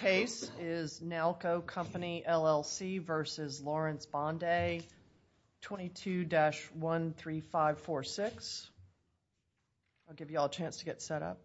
case is Nalco Company LLC versus Laurence Bonday 22-13546. I'll give you all a chance to get set up.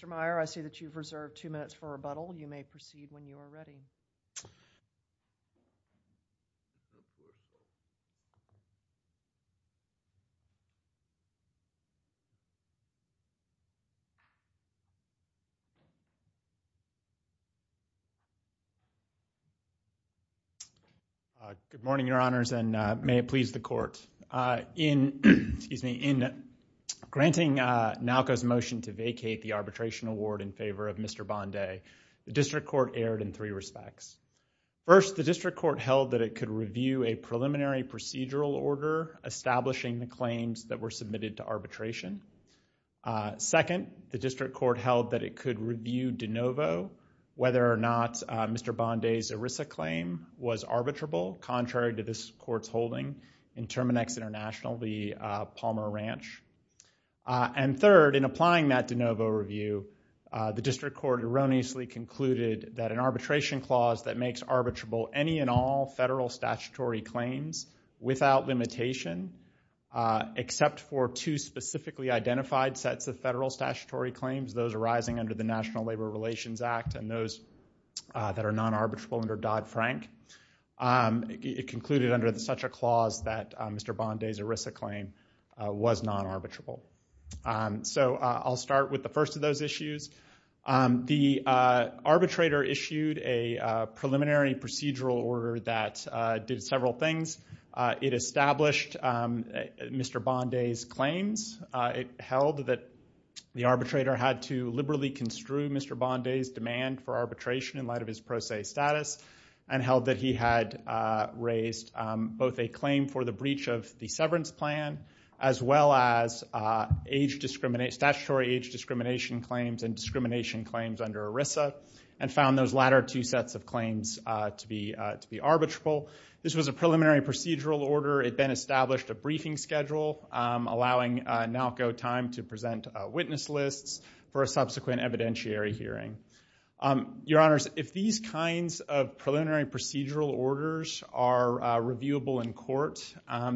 Mr. Meyer, I see that you've reserved two minutes for rebuttal. You may proceed when you are ready. Good morning, Your Honors, and may it please the Court. In granting Nalco's motion to vacate the arbitration award in favor of Mr. Bonday, the District Court erred in three respects. First, the District Court held that it could review a preliminary procedural order establishing the claims that were submitted to arbitration. Second, the District Court held that it could review de novo whether or not Mr. Bonday's ERISA claim was arbitrable, contrary to this The District Court erroneously concluded that an arbitration clause that makes arbitrable any and all federal statutory claims without limitation, except for two specifically identified sets of federal statutory claims, those arising under the National Labor Relations Act and those that are non-arbitrable under Dodd-Frank, it concluded under such a clause that Mr. So I'll start with the first of those issues. The arbitrator issued a preliminary procedural order that did several things. It established Mr. Bonday's claims. It held that the arbitrator had to liberally construe Mr. Bonday's demand for arbitration in light of his pro se status and held that he had raised both a claim for the breach of the severance plan as well as statutory age discrimination claims and discrimination claims under ERISA and found those latter two sets of claims to be arbitrable. This was a preliminary procedural order. It then established a briefing schedule allowing NALCO time to present witness lists for a subsequent evidentiary hearing. Your Honors, if these kinds of preliminary procedural orders are reviewable in court,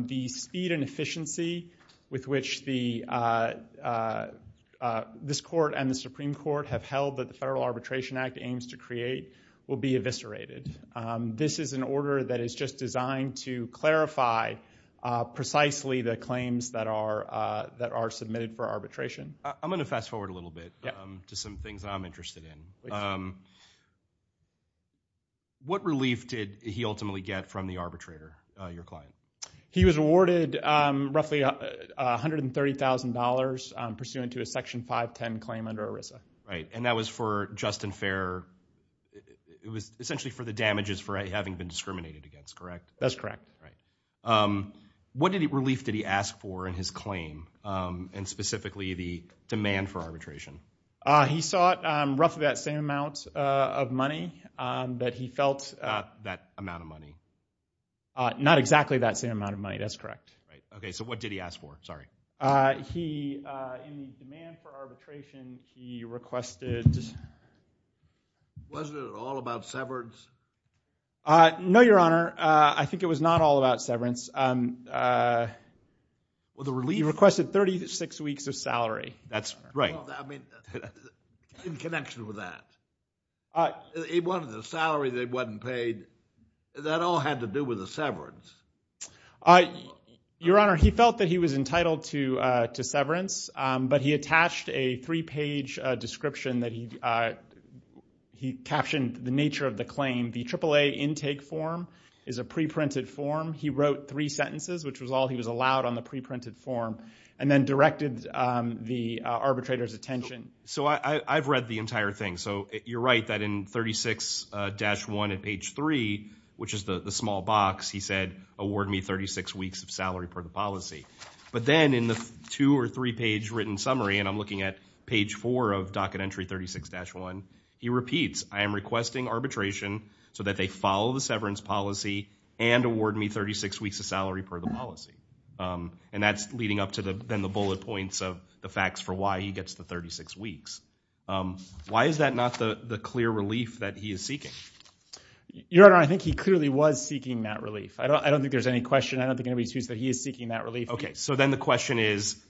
the speed and efficiency with which this court and the Supreme Court have held that the Federal Arbitration Act aims to create will be eviscerated. This is an order that is just designed to clarify precisely the claims that are submitted for arbitration. I'm going to fast forward a little bit to some things I'm interested in. What relief did he ultimately get from the arbitrator, your client? He was awarded roughly $130,000 pursuant to a Section 510 claim under ERISA. Right, and that was for just and fair, it was essentially for the damages for having been discriminated against, correct? That's correct. What relief did he ask for in his claim and specifically the demand for arbitration? He sought roughly that same amount of money that he felt. That amount of money? Not exactly that same amount of money, that's correct. Okay, so what did he ask for? Sorry. He, in the demand for arbitration, he requested... Wasn't it all about severance? No, your Honor. I think it was not all about severance. Well, the relief... He requested 36 weeks of salary. That's right. In connection with that, he wanted a salary that wasn't paid. That all had to do with the severance. Your Honor, he felt that he was entitled to severance, but he attached a three-page description that he captioned the nature of the claim. The AAA intake form is a preprinted form. He wrote three sentences, which was all he was allowed on the preprinted form, and then directed the arbitrator's attention. I've read the entire thing. You're right that in 36-1 at page 3, which is the small box, he said, award me 36 weeks of salary per the policy. But then in the two or three-page written summary, and I'm looking at page 4 of Docket Entry 36-1, he repeats, I am requesting arbitration so that they follow the severance policy and award me 36 weeks of salary per the policy. And that's leading up to then the bullet points of the facts for why he gets the 36 weeks. Why is that not the clear relief that he is seeking? Your Honor, I think he clearly was seeking that relief. I don't think there's any question. I don't think anybody's used that he is seeking that relief. Okay, so then the question is,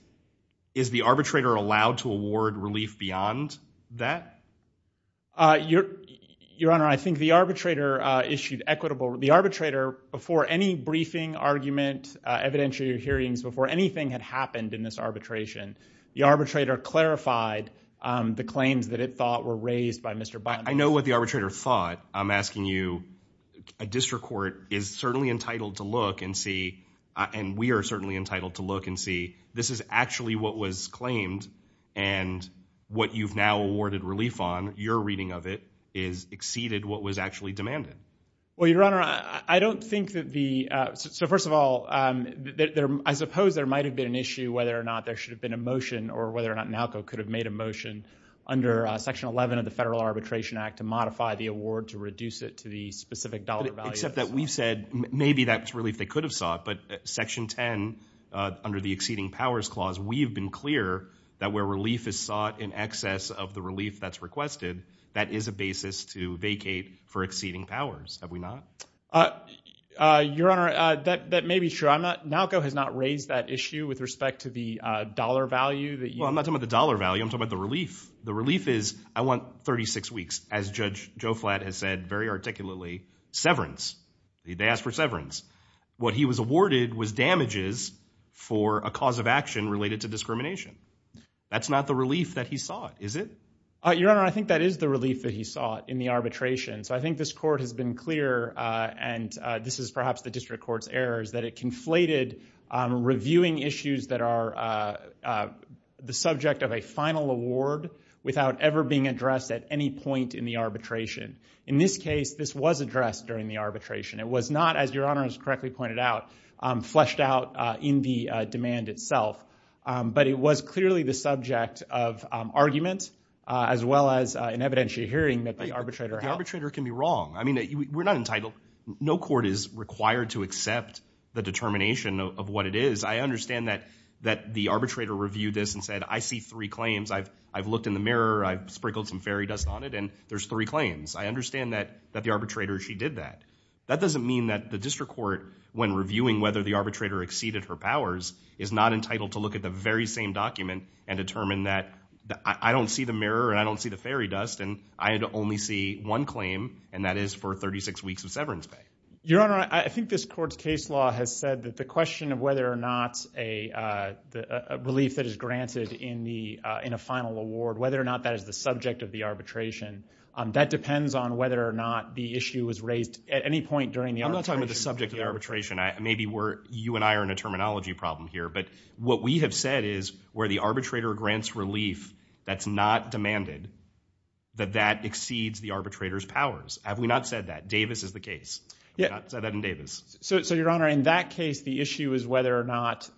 is the arbitrator allowed to award relief beyond that? Your Honor, I think the arbitrator issued equitable—the arbitrator, before any briefing, argument, evidentiary hearings, before anything had happened in this arbitration, the arbitrator clarified the claims that it thought were raised by Mr. Biden. I know what the arbitrator thought. I'm asking you. A district court is certainly entitled to look and see, and we are certainly entitled to look and see, this is actually what was claimed, and what you've now awarded relief on, your reading of it, is exceeded what was actually demanded. Well, Your Honor, I don't think that the—so first of all, I suppose there might have been an issue whether or not there should have been a motion or whether or not NALCO could have made a motion under Section 11 of the Federal Arbitration Act to modify the award to reduce it to the specific dollar value. Except that we've said maybe that's relief they could have sought, but Section 10, under the Exceeding Powers Clause, we've been clear that where relief is sought in excess of the relief that's requested, that is a basis to vacate for exceeding powers, have we not? Your Honor, that may be true. I'm not—NALCO has not raised that issue with respect to the dollar value that you— Well, I'm not talking about the dollar value. I'm talking about the relief. The relief is, I want 36 weeks, as Judge Joe Flatt has said very articulately, severance. They asked for severance. What he was awarded was damages for a cause of action related to discrimination. That's not the relief that he sought, is it? Your Honor, I think that is the relief that he sought in the arbitration. So I think this court has been clear, and this is perhaps the district court's errors, that it conflated on reviewing issues that are the subject of a final award without ever being addressed at any point in the arbitration. In this case, this was addressed during the arbitration. It was not, as Your Honor has correctly pointed out, fleshed out in the demand itself. But it was clearly the subject of argument as well as an evidentiary hearing that the arbitrator held. The arbitrator can be wrong. I mean, we're not entitled—no court is required to accept the determination of what it is. I understand that the arbitrator reviewed this and said, I see three claims. I've looked in the mirror. I've sprinkled some fairy dust on it, and there's three claims. I understand that the arbitrator, she did that. That doesn't mean that the district court, when reviewing whether the arbitrator exceeded her powers, is not entitled to look at the very same document and determine that I don't see the mirror and I don't see the fairy dust, and I only see one claim, and that is for 36 weeks of severance pay. Your Honor, I think this court's case law has said that the question of whether or not a relief that is granted in the—in a final award, whether or not that is the subject of the arbitration, that depends on whether or not the issue was raised at any point during the arbitration. I'm not talking about the subject of the arbitration. Maybe we're—you and I are in a terminology problem here, but what we have said is where the arbitrator grants relief that's not demanded, that that exceeds the arbitrator's powers. Have we not said that? Davis is the case. Yeah. Have we not said that in Davis? So, Your Honor, in that case, the issue is whether or not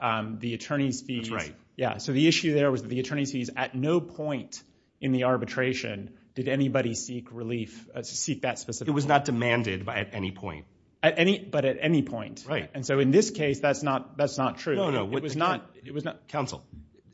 the attorney's fees— That's right. Yeah. So the issue there was that the attorney's fees at no point in the arbitration did anybody seek relief—seek that specific point. It was not demanded by—at any point. At any—but at any point. Right. And so in this case, that's not—that's not true. No, no. It was not— Counsel,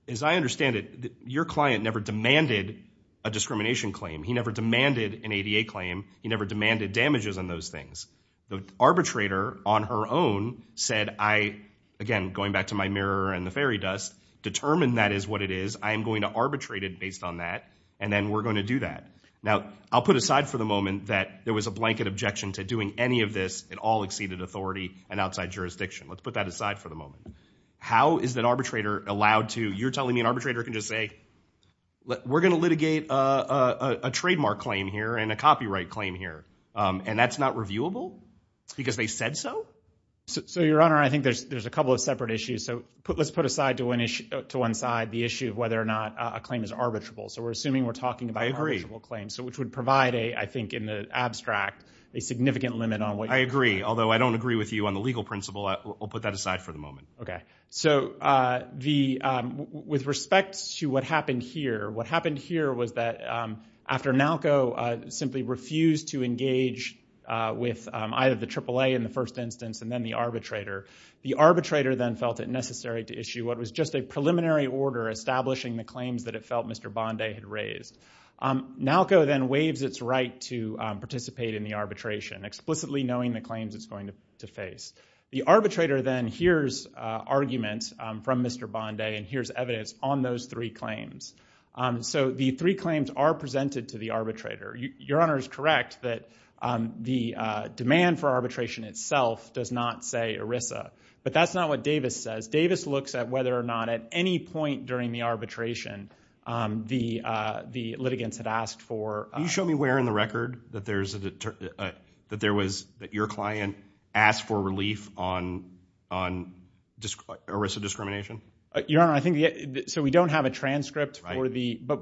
as I understand it, your client never demanded a discrimination claim. He never demanded an ADA claim. He never demanded damages on those things. The arbitrator, on her own, said, I—again, going back to my mirror and the fairy dust—determined that is what it is. I am going to arbitrate it based on that, and then we're going to do that. Now, I'll put aside for the moment that there was a blanket objection to doing any of this. It all exceeded authority and outside jurisdiction. Let's put that aside for the moment. How is an arbitrator allowed to—you're telling me an arbitrator can just say, we're going to litigate a trademark claim here and a copyright claim here. And that's not reviewable because they said so? So your Honor, I think there's a couple of separate issues. So let's put aside to one issue—to one side the issue of whether or not a claim is arbitrable. So we're assuming we're talking about an arbitrable claim, so which would provide a, I think, in the abstract, a significant limit on what— I agree. Although I don't agree with you on the legal principle, I'll put that aside for the moment. Okay. So the—with respect to what happened here, what happened here was that after NALCO simply refused to engage with either the AAA in the first instance and then the arbitrator, the arbitrator then felt it necessary to issue what was just a preliminary order establishing the claims that it felt Mr. Bonday had raised. NALCO then waives its right to participate in the arbitration, explicitly knowing the claims it's going to face. The arbitrator then hears arguments from Mr. Bonday and hears evidence on those three claims. So the three claims are presented to the arbitrator. Your Honor is correct that the demand for arbitration itself does not say ERISA. But that's not what Davis says. Davis looks at whether or not at any point during the arbitration the litigants had asked for— Can you show me where in the record that there's a—that there was—that your client asked for relief on ERISA discrimination? Your Honor, I think—so we don't have a transcript for the— Right.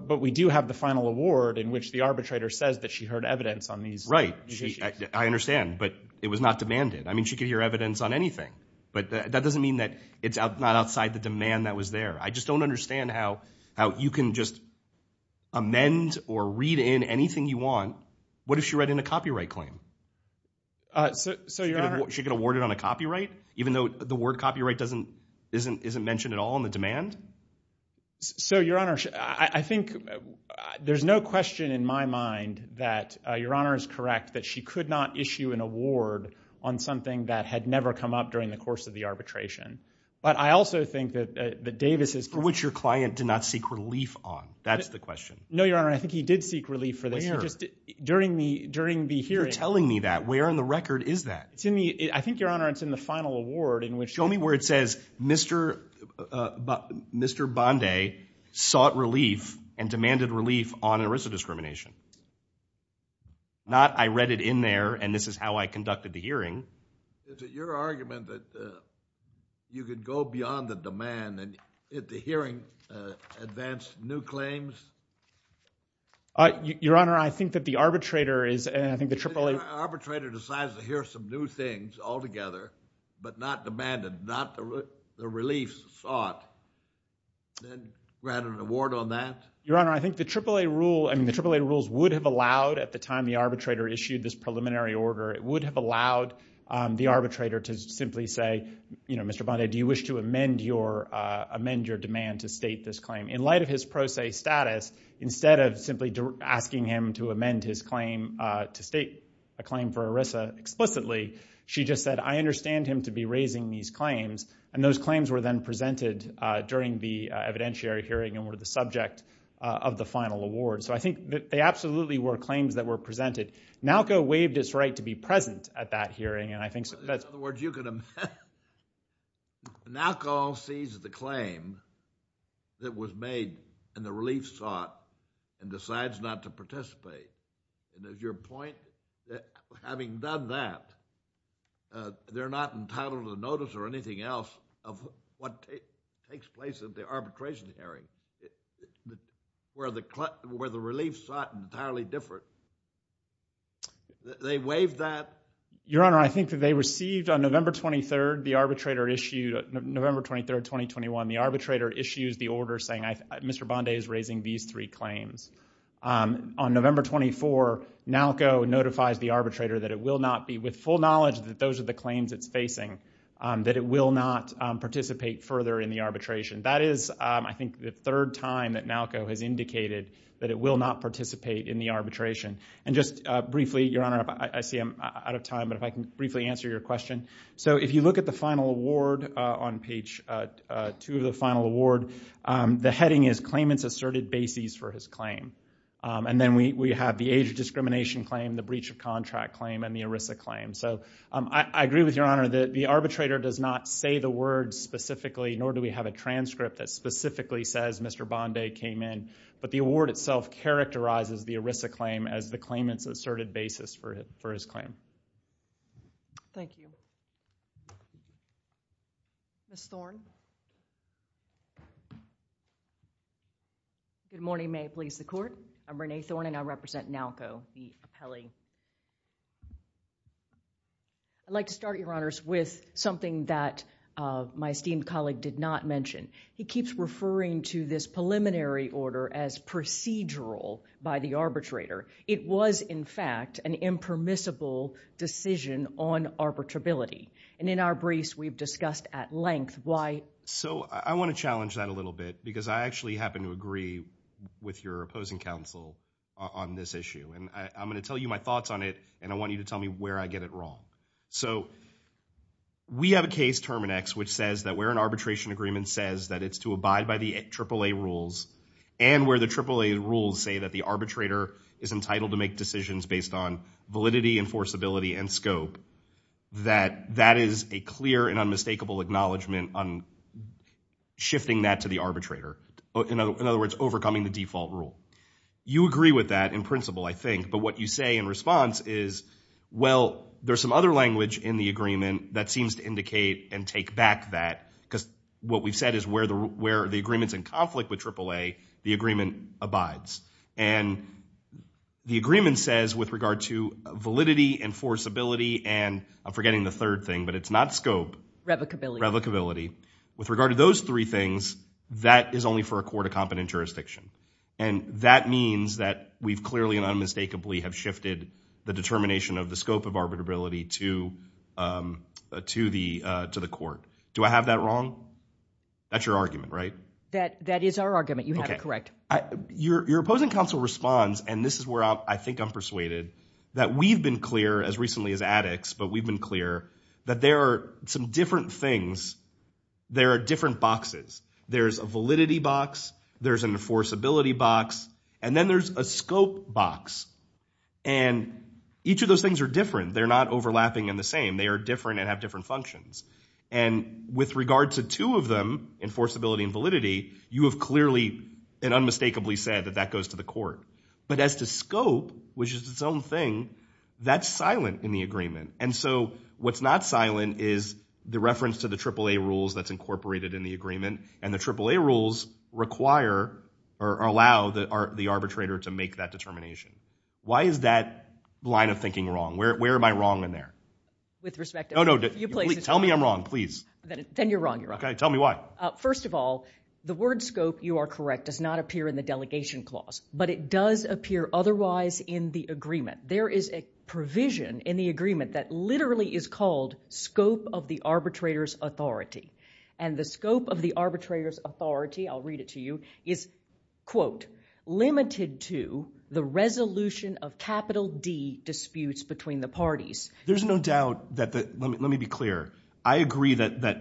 I understand. But it was not demanded. I mean, she could hear evidence on anything. But that doesn't mean that it's not outside the demand that was there. I just don't understand how you can just amend or read in anything you want. What if she read in a copyright claim? So your Honor— She could award it on a copyright, even though the word copyright doesn't—isn't mentioned at all in the demand? So, your Honor, I think there's no question in my mind that your Honor is correct that she could not issue an award on something that had never come up during the course of the arbitration. But I also think that Davis is— For which your client did not seek relief on. That's the question. No, your Honor. I think he did seek relief for this. Where? During the hearing. You're telling me that. Where in the record is that? It's in the—I think, your Honor, it's in the final award in which— Mr. Bondi sought relief and demanded relief on eriso-discrimination. Not I read it in there and this is how I conducted the hearing. Is it your argument that you could go beyond the demand and the hearing advanced new claims? Your Honor, I think that the arbitrator is— I think the AAA— The arbitrator decides to hear some new things altogether, but not demanded, not the relief that eriso sought. Then grant an award on that. Your Honor, I think the AAA rule—I mean, the AAA rules would have allowed at the time the arbitrator issued this preliminary order, it would have allowed the arbitrator to simply say, you know, Mr. Bondi, do you wish to amend your demand to state this claim? In light of his pro se status, instead of simply asking him to amend his claim to state a claim for eriso explicitly, she just said, I understand him to be raising these claims and those claims were then presented during the evidentiary hearing and were the subject of the final award. So I think that they absolutely were claims that were presented. NALCO waived its right to be present at that hearing and I think that's— In other words, you could amend—NALCO sees the claim that was made and the relief sought and decides not to participate and as your point, having done that, they're not entitled to notice or anything else of what takes place at the arbitration hearing, where the relief sought entirely different. They waived that. Your Honor, I think that they received on November 23rd, the arbitrator issued—November 23rd, 2021, the arbitrator issues the order saying Mr. Bondi is raising these three claims. On November 24, NALCO notifies the arbitrator that it will not be with full knowledge that those are the claims it's facing, that it will not participate further in the arbitration. That is, I think, the third time that NALCO has indicated that it will not participate in the arbitration. And just briefly, Your Honor, I see I'm out of time, but if I can briefly answer your question. So if you look at the final award on page two of the final award, the heading is claimants asserted bases for his claim. And then we have the age of discrimination claim, the breach of contract claim, and the erisa claim. So I agree with Your Honor that the arbitrator does not say the words specifically, nor do we have a transcript that specifically says Mr. Bondi came in, but the award itself characterizes the erisa claim as the claimant's asserted basis for his claim. Thank you. Ms. Thorne. Good morning. May it please the Court. I'm Renee Thorne and I represent NALCO, the appellee. I'd like to start, Your Honors, with something that my esteemed colleague did not mention. He keeps referring to this preliminary order as procedural by the arbitrator. It was, in fact, an impermissible decision on arbitrability. And in our briefs, we've discussed at length why. So I want to challenge that a little bit because I actually happen to agree with your opposing counsel on this issue. And I'm going to tell you my thoughts on it, and I want you to tell me where I get it wrong. So we have a case, Terminex, which says that where an arbitration agreement says that it's to abide by the AAA rules, and where the AAA rules say that the arbitrator is entitled to make decisions based on validity, enforceability, and scope, that that is a clear and unmistakable acknowledgement on shifting that to the arbitrator, in other words, overcoming the default rule. You agree with that in principle. I think. But what you say in response is, well, there's some other language in the agreement that seems to indicate and take back that, because what we've said is where the agreement's in conflict with AAA, the agreement abides. And the agreement says, with regard to validity, enforceability, and I'm forgetting the third thing, but it's not scope. Revocability. Revocability. With regard to those three things, that is only for a court of competent jurisdiction. And that means that we've clearly and unmistakably have shifted the determination of the scope of arbitrability to the court. Do I have that wrong? That's your argument, right? That is our argument. You have it correct. Okay. Your opposing counsel responds, and this is where I think I'm persuaded, that we've been clear as recently as addicts, but we've been clear that there are some different things, there are different boxes. There's a validity box, there's an enforceability box, and then there's a scope box. And each of those things are different. They're not overlapping in the same. They are different and have different functions. And with regard to two of them, enforceability and validity, you have clearly and unmistakably said that that goes to the court. But as to scope, which is its own thing, that's silent in the agreement. And so what's not silent is the reference to the AAA rules that's incorporated in the agreement, and the AAA rules require or allow the arbitrator to make that determination. Why is that line of thinking wrong? Where am I wrong in there? With respect to... No, no. Tell me I'm wrong, please. Then you're wrong. You're wrong. Okay. Tell me why. First of all, the word scope, you are correct, does not appear in the delegation clause. But it does appear otherwise in the agreement. There is a provision in the agreement that literally is called scope of the arbitrator's authority. And the scope of the arbitrator's authority, I'll read it to you, is, quote, limited to the resolution of capital D disputes between the parties. There's no doubt that the... Let me be clear. I agree that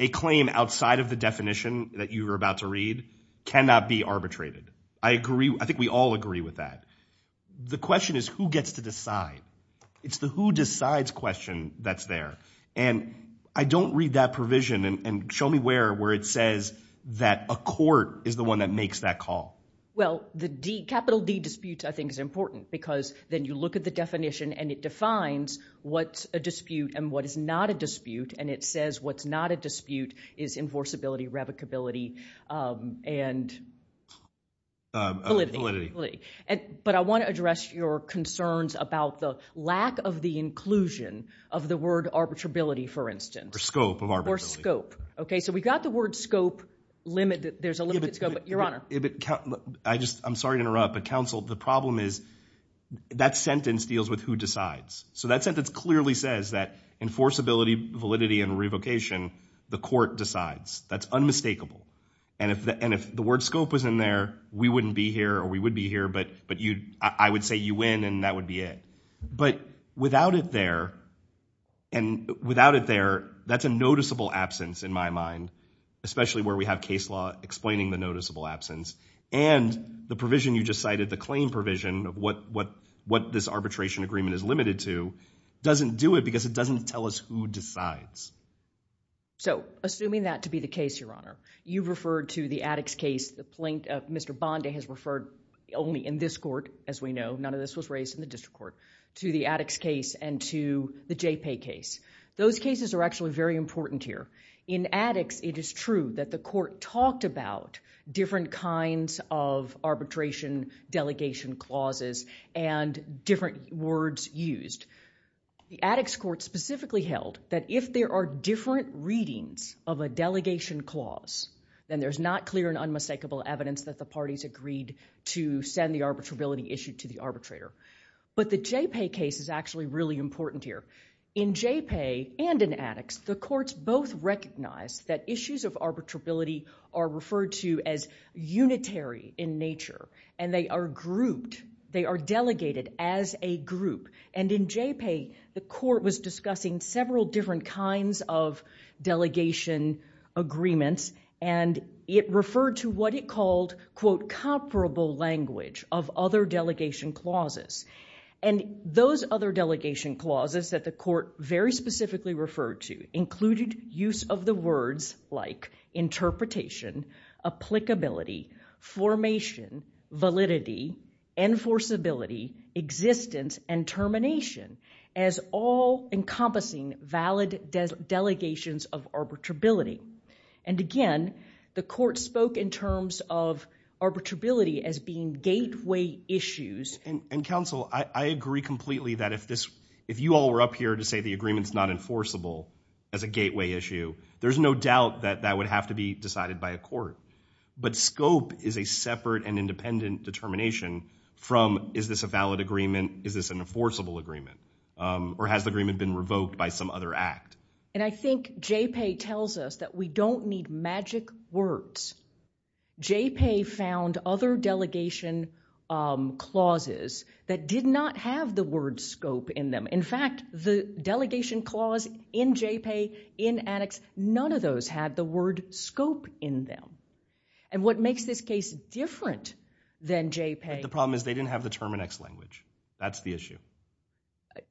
a claim outside of the definition that you were about to read cannot be arbitrated. I agree. I think we all agree with that. The question is who gets to decide. It's the who decides question that's there. And I don't read that provision. And show me where it says that a court is the one that makes that call. Well, the capital D disputes, I think, is important because then you look at the definition and it defines what's a dispute and what is not a dispute. And it says what's not a dispute is enforceability, revocability, and validity. But I want to address your concerns about the lack of the inclusion of the word arbitrability, for instance. Or scope of arbitrability. Or scope. Okay. So we got the word scope limited. There's a limited scope. Your Honor. I just... I'm sorry to interrupt, but counsel, the problem is that sentence deals with who decides. So that sentence clearly says that enforceability, validity, and revocation, the court decides. That's unmistakable. And if the word scope was in there, we wouldn't be here or we would be here, but I would say you win and that would be it. But without it there, and without it there, that's a noticeable absence in my mind, especially where we have case law explaining the noticeable absence. And the provision you just cited, the claim provision of what this arbitration agreement is limited to, doesn't do it because it doesn't tell us who decides. So, assuming that to be the case, Your Honor, you referred to the addicts case, Mr. Bondi has referred only in this court, as we know, none of this was raised in the district court, to the addicts case and to the JPAY case. Those cases are actually very important here. In addicts, it is true that the court talked about different kinds of arbitration delegation clauses and different words used. The addicts court specifically held that if there are different readings of a delegation clause, then there's not clear and unmistakable evidence that the parties agreed to send the arbitrability issue to the arbitrator. But the JPAY case is actually really important here. In JPAY and in addicts, the courts both recognize that issues of arbitrability are referred to as unitary in nature and they are grouped, they are delegated as a group. And in JPAY, the court was discussing several different kinds of delegation agreements and it referred to what it called, quote, comparable language of other delegation clauses. And those other delegation clauses that the court very specifically referred to included use of the words like interpretation, applicability, formation, validity, enforceability, existence and termination as all encompassing valid delegations of arbitrability. And again, the court spoke in terms of arbitrability as being gateway issues. And counsel, I agree completely that if this, if you all were up here to say the agreement is not enforceable as a gateway issue, there's no doubt that that would have to be decided by a court. But scope is a separate and independent determination from is this a valid agreement? Is this an enforceable agreement? Or has the agreement been revoked by some other act? And I think JPAY tells us that we don't need magic words. JPAY found other delegation clauses that did not have the word scope in them. In fact, the delegation clause in JPAY, in addicts, none of those had the word scope in them. And what makes this case different than JPAY. The problem is they didn't have the Terminex language. That's the issue.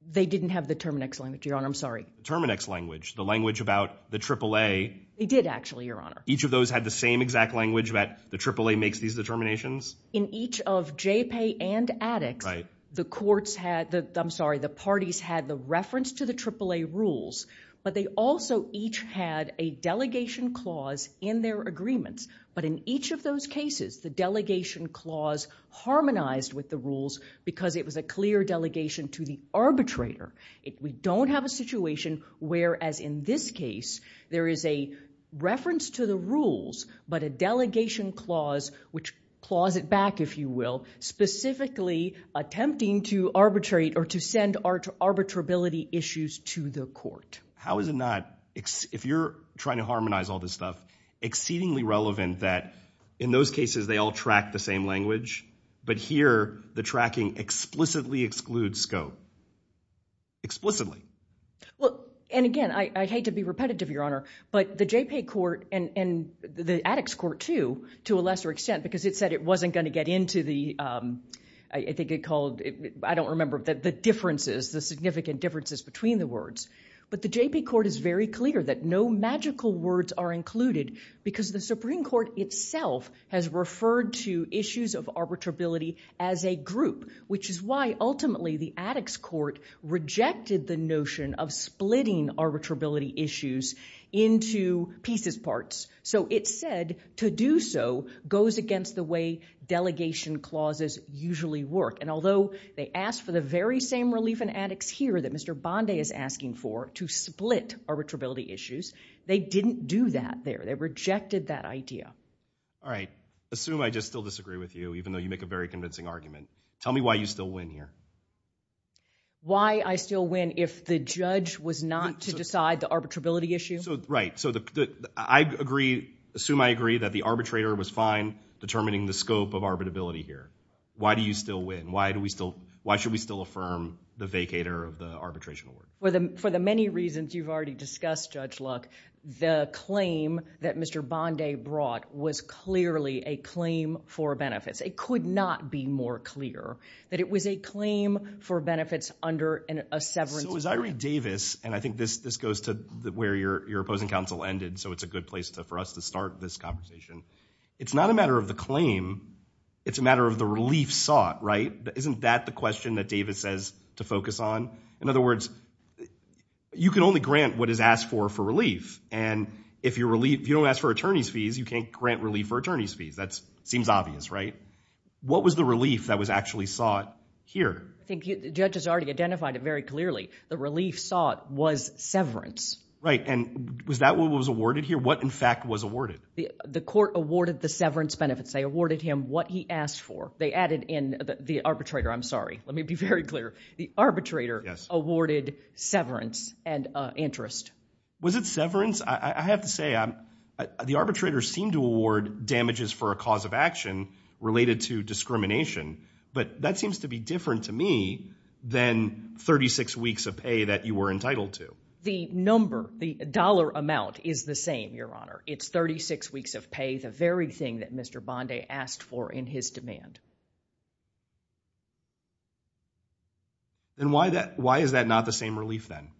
They didn't have the Terminex language, Your Honor. I'm sorry. Terminex language, the language about the AAA. They did actually, Your Honor. Each of those had the same exact language that the AAA makes these determinations? In each of JPAY and addicts, the courts had, I'm sorry, the parties had the reference to the AAA rules, but they also each had a delegation clause in their agreements. But in each of those cases, the delegation clause harmonized with the rules because it was a clear delegation to the arbitrator. We don't have a situation where, as in this case, there is a reference to the rules, but a delegation clause, which claws it back, if you will, specifically attempting to arbitrate or to send arbitrability issues to the court. How is it not, if you're trying to harmonize all this stuff, exceedingly relevant that in those cases they all track the same language, but here the tracking explicitly excludes scope? Explicitly. Well, and again, I'd hate to be repetitive, Your Honor, but the JPAY court and the addicts court too, to a lesser extent, because it said it wasn't going to get into the, I think it called, I don't remember, the differences, the significant differences between the words. But the JPAY court is very clear that no magical words are included because the Supreme Court itself has referred to issues of arbitrability as a group, which is why ultimately the addicts court rejected the notion of splitting arbitrability issues into pieces parts. So it said to do so goes against the way delegation clauses usually work. And although they asked for the very same relief in addicts here that Mr. Bondi is asking for to split arbitrability issues, they didn't do that there. They rejected that idea. All right. Assume I just still disagree with you, even though you make a very convincing argument. Tell me why you still win here. Why I still win if the judge was not to decide the arbitrability issue? Right. So I agree, assume I agree that the arbitrator was fine determining the scope of arbitrability here. Why do you still win? Why do we still, why should we still affirm the vacator of the arbitration award? For the many reasons you've already discussed, Judge Luck, the claim that Mr. Bondi brought was clearly a claim for benefits. It could not be more clear that it was a claim for benefits under a severance agreement. So as I read Davis, and I think this goes to where your opposing counsel ended, so it's a good place for us to start this conversation. It's not a matter of the claim. It's a matter of the relief sought, right? Isn't that the question that Davis says to focus on? In other words, you can only grant what is asked for for relief. And if you don't ask for attorney's fees, you can't grant relief for attorney's fees. That seems obvious, right? What was the relief that was actually sought here? I think the judge has already identified it very clearly. The relief sought was severance. Right. And was that what was awarded here? What in fact was awarded? The court awarded the severance benefits. They awarded him what he asked for. They added in the arbitrator. I'm sorry. Let me be very clear. The arbitrator awarded severance and interest. Was it severance? I have to say, the arbitrator seemed to award damages for a cause of action related to discrimination. But that seems to be different to me than 36 weeks of pay that you were entitled to. The number, the dollar amount is the same, Your Honor. It's 36 weeks of pay, the very thing that Mr. Bondi asked for in his demand. Then why is that not the same relief then?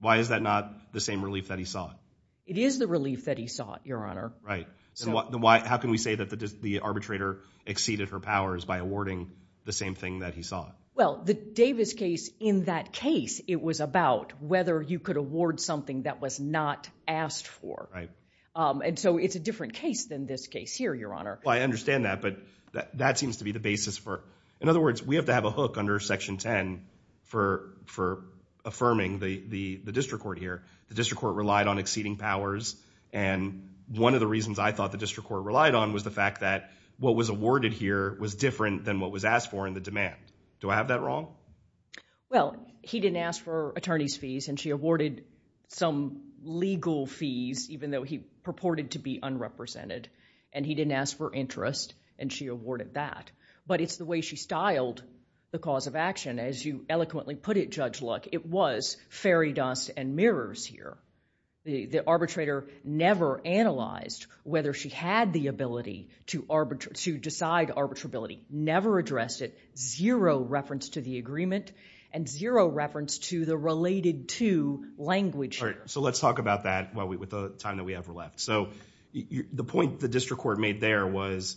Why is that not the same relief that he sought? It is the relief that he sought, Your Honor. Right. So how can we say that the arbitrator exceeded her powers by awarding the same thing that he sought? Well, the Davis case, in that case, it was about whether you could award something that was not asked for. And so it's a different case than this case here, Your Honor. Well, I understand that. But that seems to be the basis for, in other words, we have to have a hook under Section 10 for affirming the district court here. The district court relied on exceeding powers. And one of the reasons I thought the district court relied on was the fact that what was awarded here was different than what was asked for in the demand. Do I have that wrong? Well, he didn't ask for attorney's fees. And she awarded some legal fees, even though he purported to be unrepresented. And he didn't ask for interest. And she awarded that. But it's the way she styled the cause of action. As you eloquently put it, Judge Luck, it was fairy dust and mirrors here. The arbitrator never analyzed whether she had the ability to decide arbitrability. Never addressed it. Zero reference to the agreement. And zero reference to the related to language here. So let's talk about that with the time that we have left. So the point the district court made there was,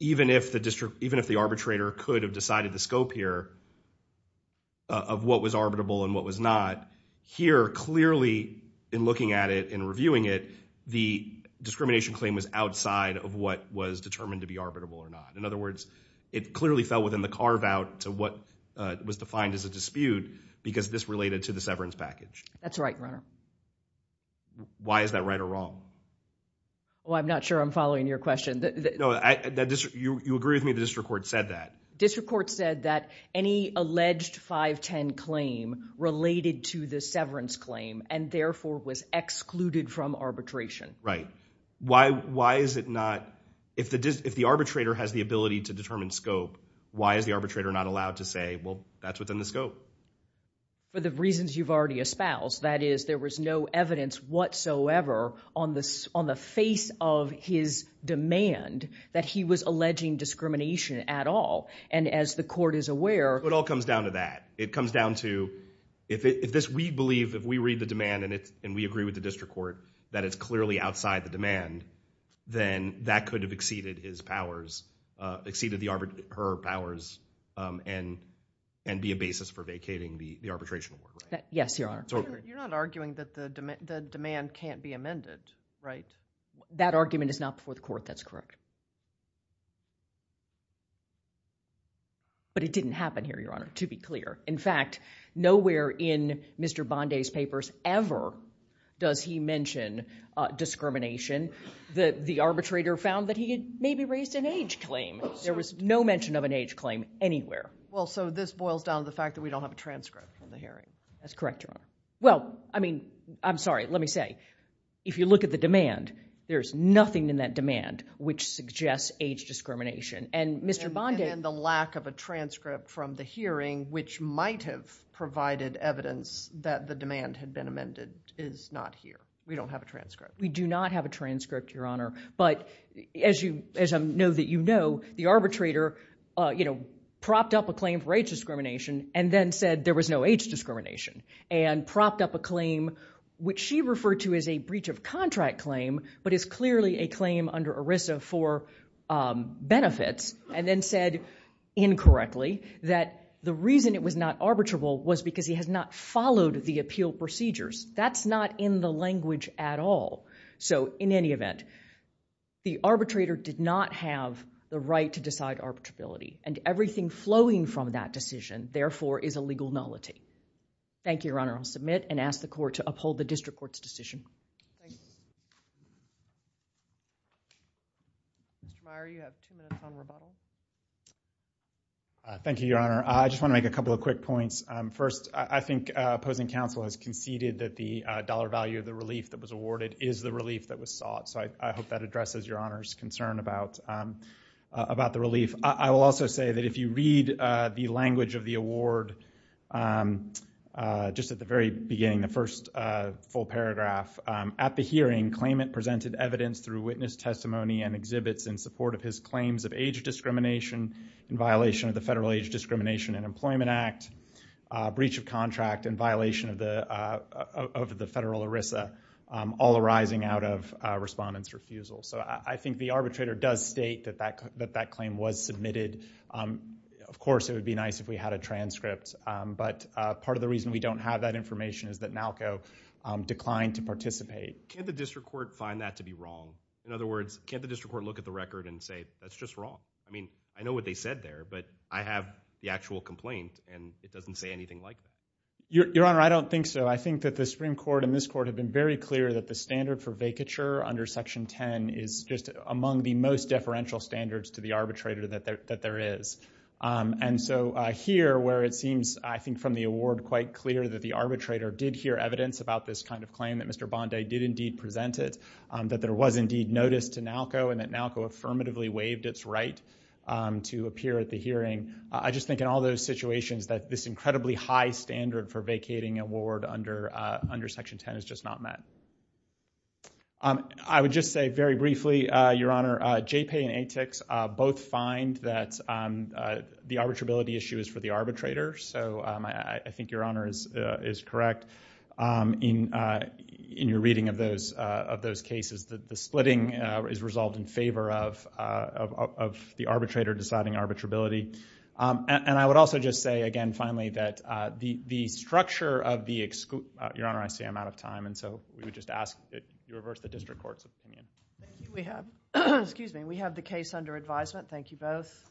even if the arbitrator could have decided the scope here of what was arbitrable and what was not, here, clearly, in looking at it and reviewing it, the discrimination claim was outside of what was determined to be arbitrable or not. In other words, it clearly fell within the carve out to what was defined as a dispute because this related to the severance package. That's right, Your Honor. Why is that right or wrong? Well, I'm not sure I'm following your question. No, you agree with me the district court said that. District court said that any alleged 510 claim related to the severance claim and therefore was excluded from arbitration. Right. Why is it not, if the arbitrator has the ability to determine scope, why is the arbitrator not allowed to say, well, that's within the scope? For the reasons you've already espoused. That is, there was no evidence whatsoever on the face of his demand that he was alleging discrimination at all. And as the court is aware. It all comes down to that. It comes down to, if we believe, if we read the demand and we agree with the district court that it's clearly outside the demand, then that could have exceeded his powers, exceeded her powers, and be a basis for vacating the arbitration award. Yes, Your Honor. You're not arguing that the demand can't be amended, right? That argument is not before the court, that's correct. But it didn't happen here, Your Honor, to be clear. In fact, nowhere in Mr. Bondi's papers ever does he mention discrimination. The arbitrator found that he had maybe raised an age claim. There was no mention of an age claim anywhere. Well, so this boils down to the fact that we don't have a transcript from the hearing. That's correct, Your Honor. Well, I mean, I'm sorry, let me say, if you look at the demand, there's nothing in that demand which suggests age discrimination. And Mr. Bondi- Which might have provided evidence that the demand had been amended is not here. We don't have a transcript. We do not have a transcript, Your Honor. But as I know that you know, the arbitrator propped up a claim for age discrimination and then said there was no age discrimination. And propped up a claim, which she referred to as a breach of contract claim, but is clearly a claim under ERISA for benefits. And then said, incorrectly, that the reason it was not arbitrable was because he has not followed the appeal procedures. That's not in the language at all. So in any event, the arbitrator did not have the right to decide arbitrability. And everything flowing from that decision, therefore, is a legal nullity. Thank you, Your Honor. I'll submit and ask the court to uphold the district court's decision. Mr. Meyer, you have two minutes on rebuttal. Thank you, Your Honor. I just want to make a couple of quick points. First, I think opposing counsel has conceded that the dollar value of the relief that was awarded is the relief that was sought. So I hope that addresses Your Honor's concern about the relief. I will also say that if you read the language of the award, just at the very beginning, the first full paragraph, at the hearing, claimant presented evidence through witness testimony and exhibits in support of his claims of age discrimination in violation of the Federal Age Discrimination and Employment Act, breach of contract, and violation of the federal ERISA, all arising out of respondent's refusal. So I think the arbitrator does state that that claim was submitted. Of course, it would be nice if we had a transcript. But part of the reason we don't have that information is that NALCO declined to participate. Can't the district court find that to be wrong? In other words, can't the district court look at the record and say, that's just wrong? I mean, I know what they said there, but I have the actual complaint, and it doesn't say anything like that. Your Honor, I don't think so. I think that the Supreme Court and this Court have been very clear that the standard for vacature under Section 10 is just among the most deferential standards to the arbitrator that there is. And so here, where it seems, I think, from the award quite clear that the arbitrator did hear evidence about this kind of claim that Mr. Bondi did indeed present it, that there was indeed notice to NALCO, and that NALCO affirmatively waived its right to appear at the hearing. I just think in all those situations that this incredibly high standard for vacating award under Section 10 is just not met. I would just say very briefly, Your Honor, JPAY and ATIX both find that the arbitrability issue is for the arbitrator. So I think Your Honor is correct in your reading of those cases, that the splitting is resolved in favor of the arbitrator deciding arbitrability. And I would also just say, again, finally, that the structure of the—Your Honor, I am out of time. And so we would just ask that you reverse the district court's opinion. Thank you. We have—excuse me. We have the case under advisement. Thank you both. Thank you.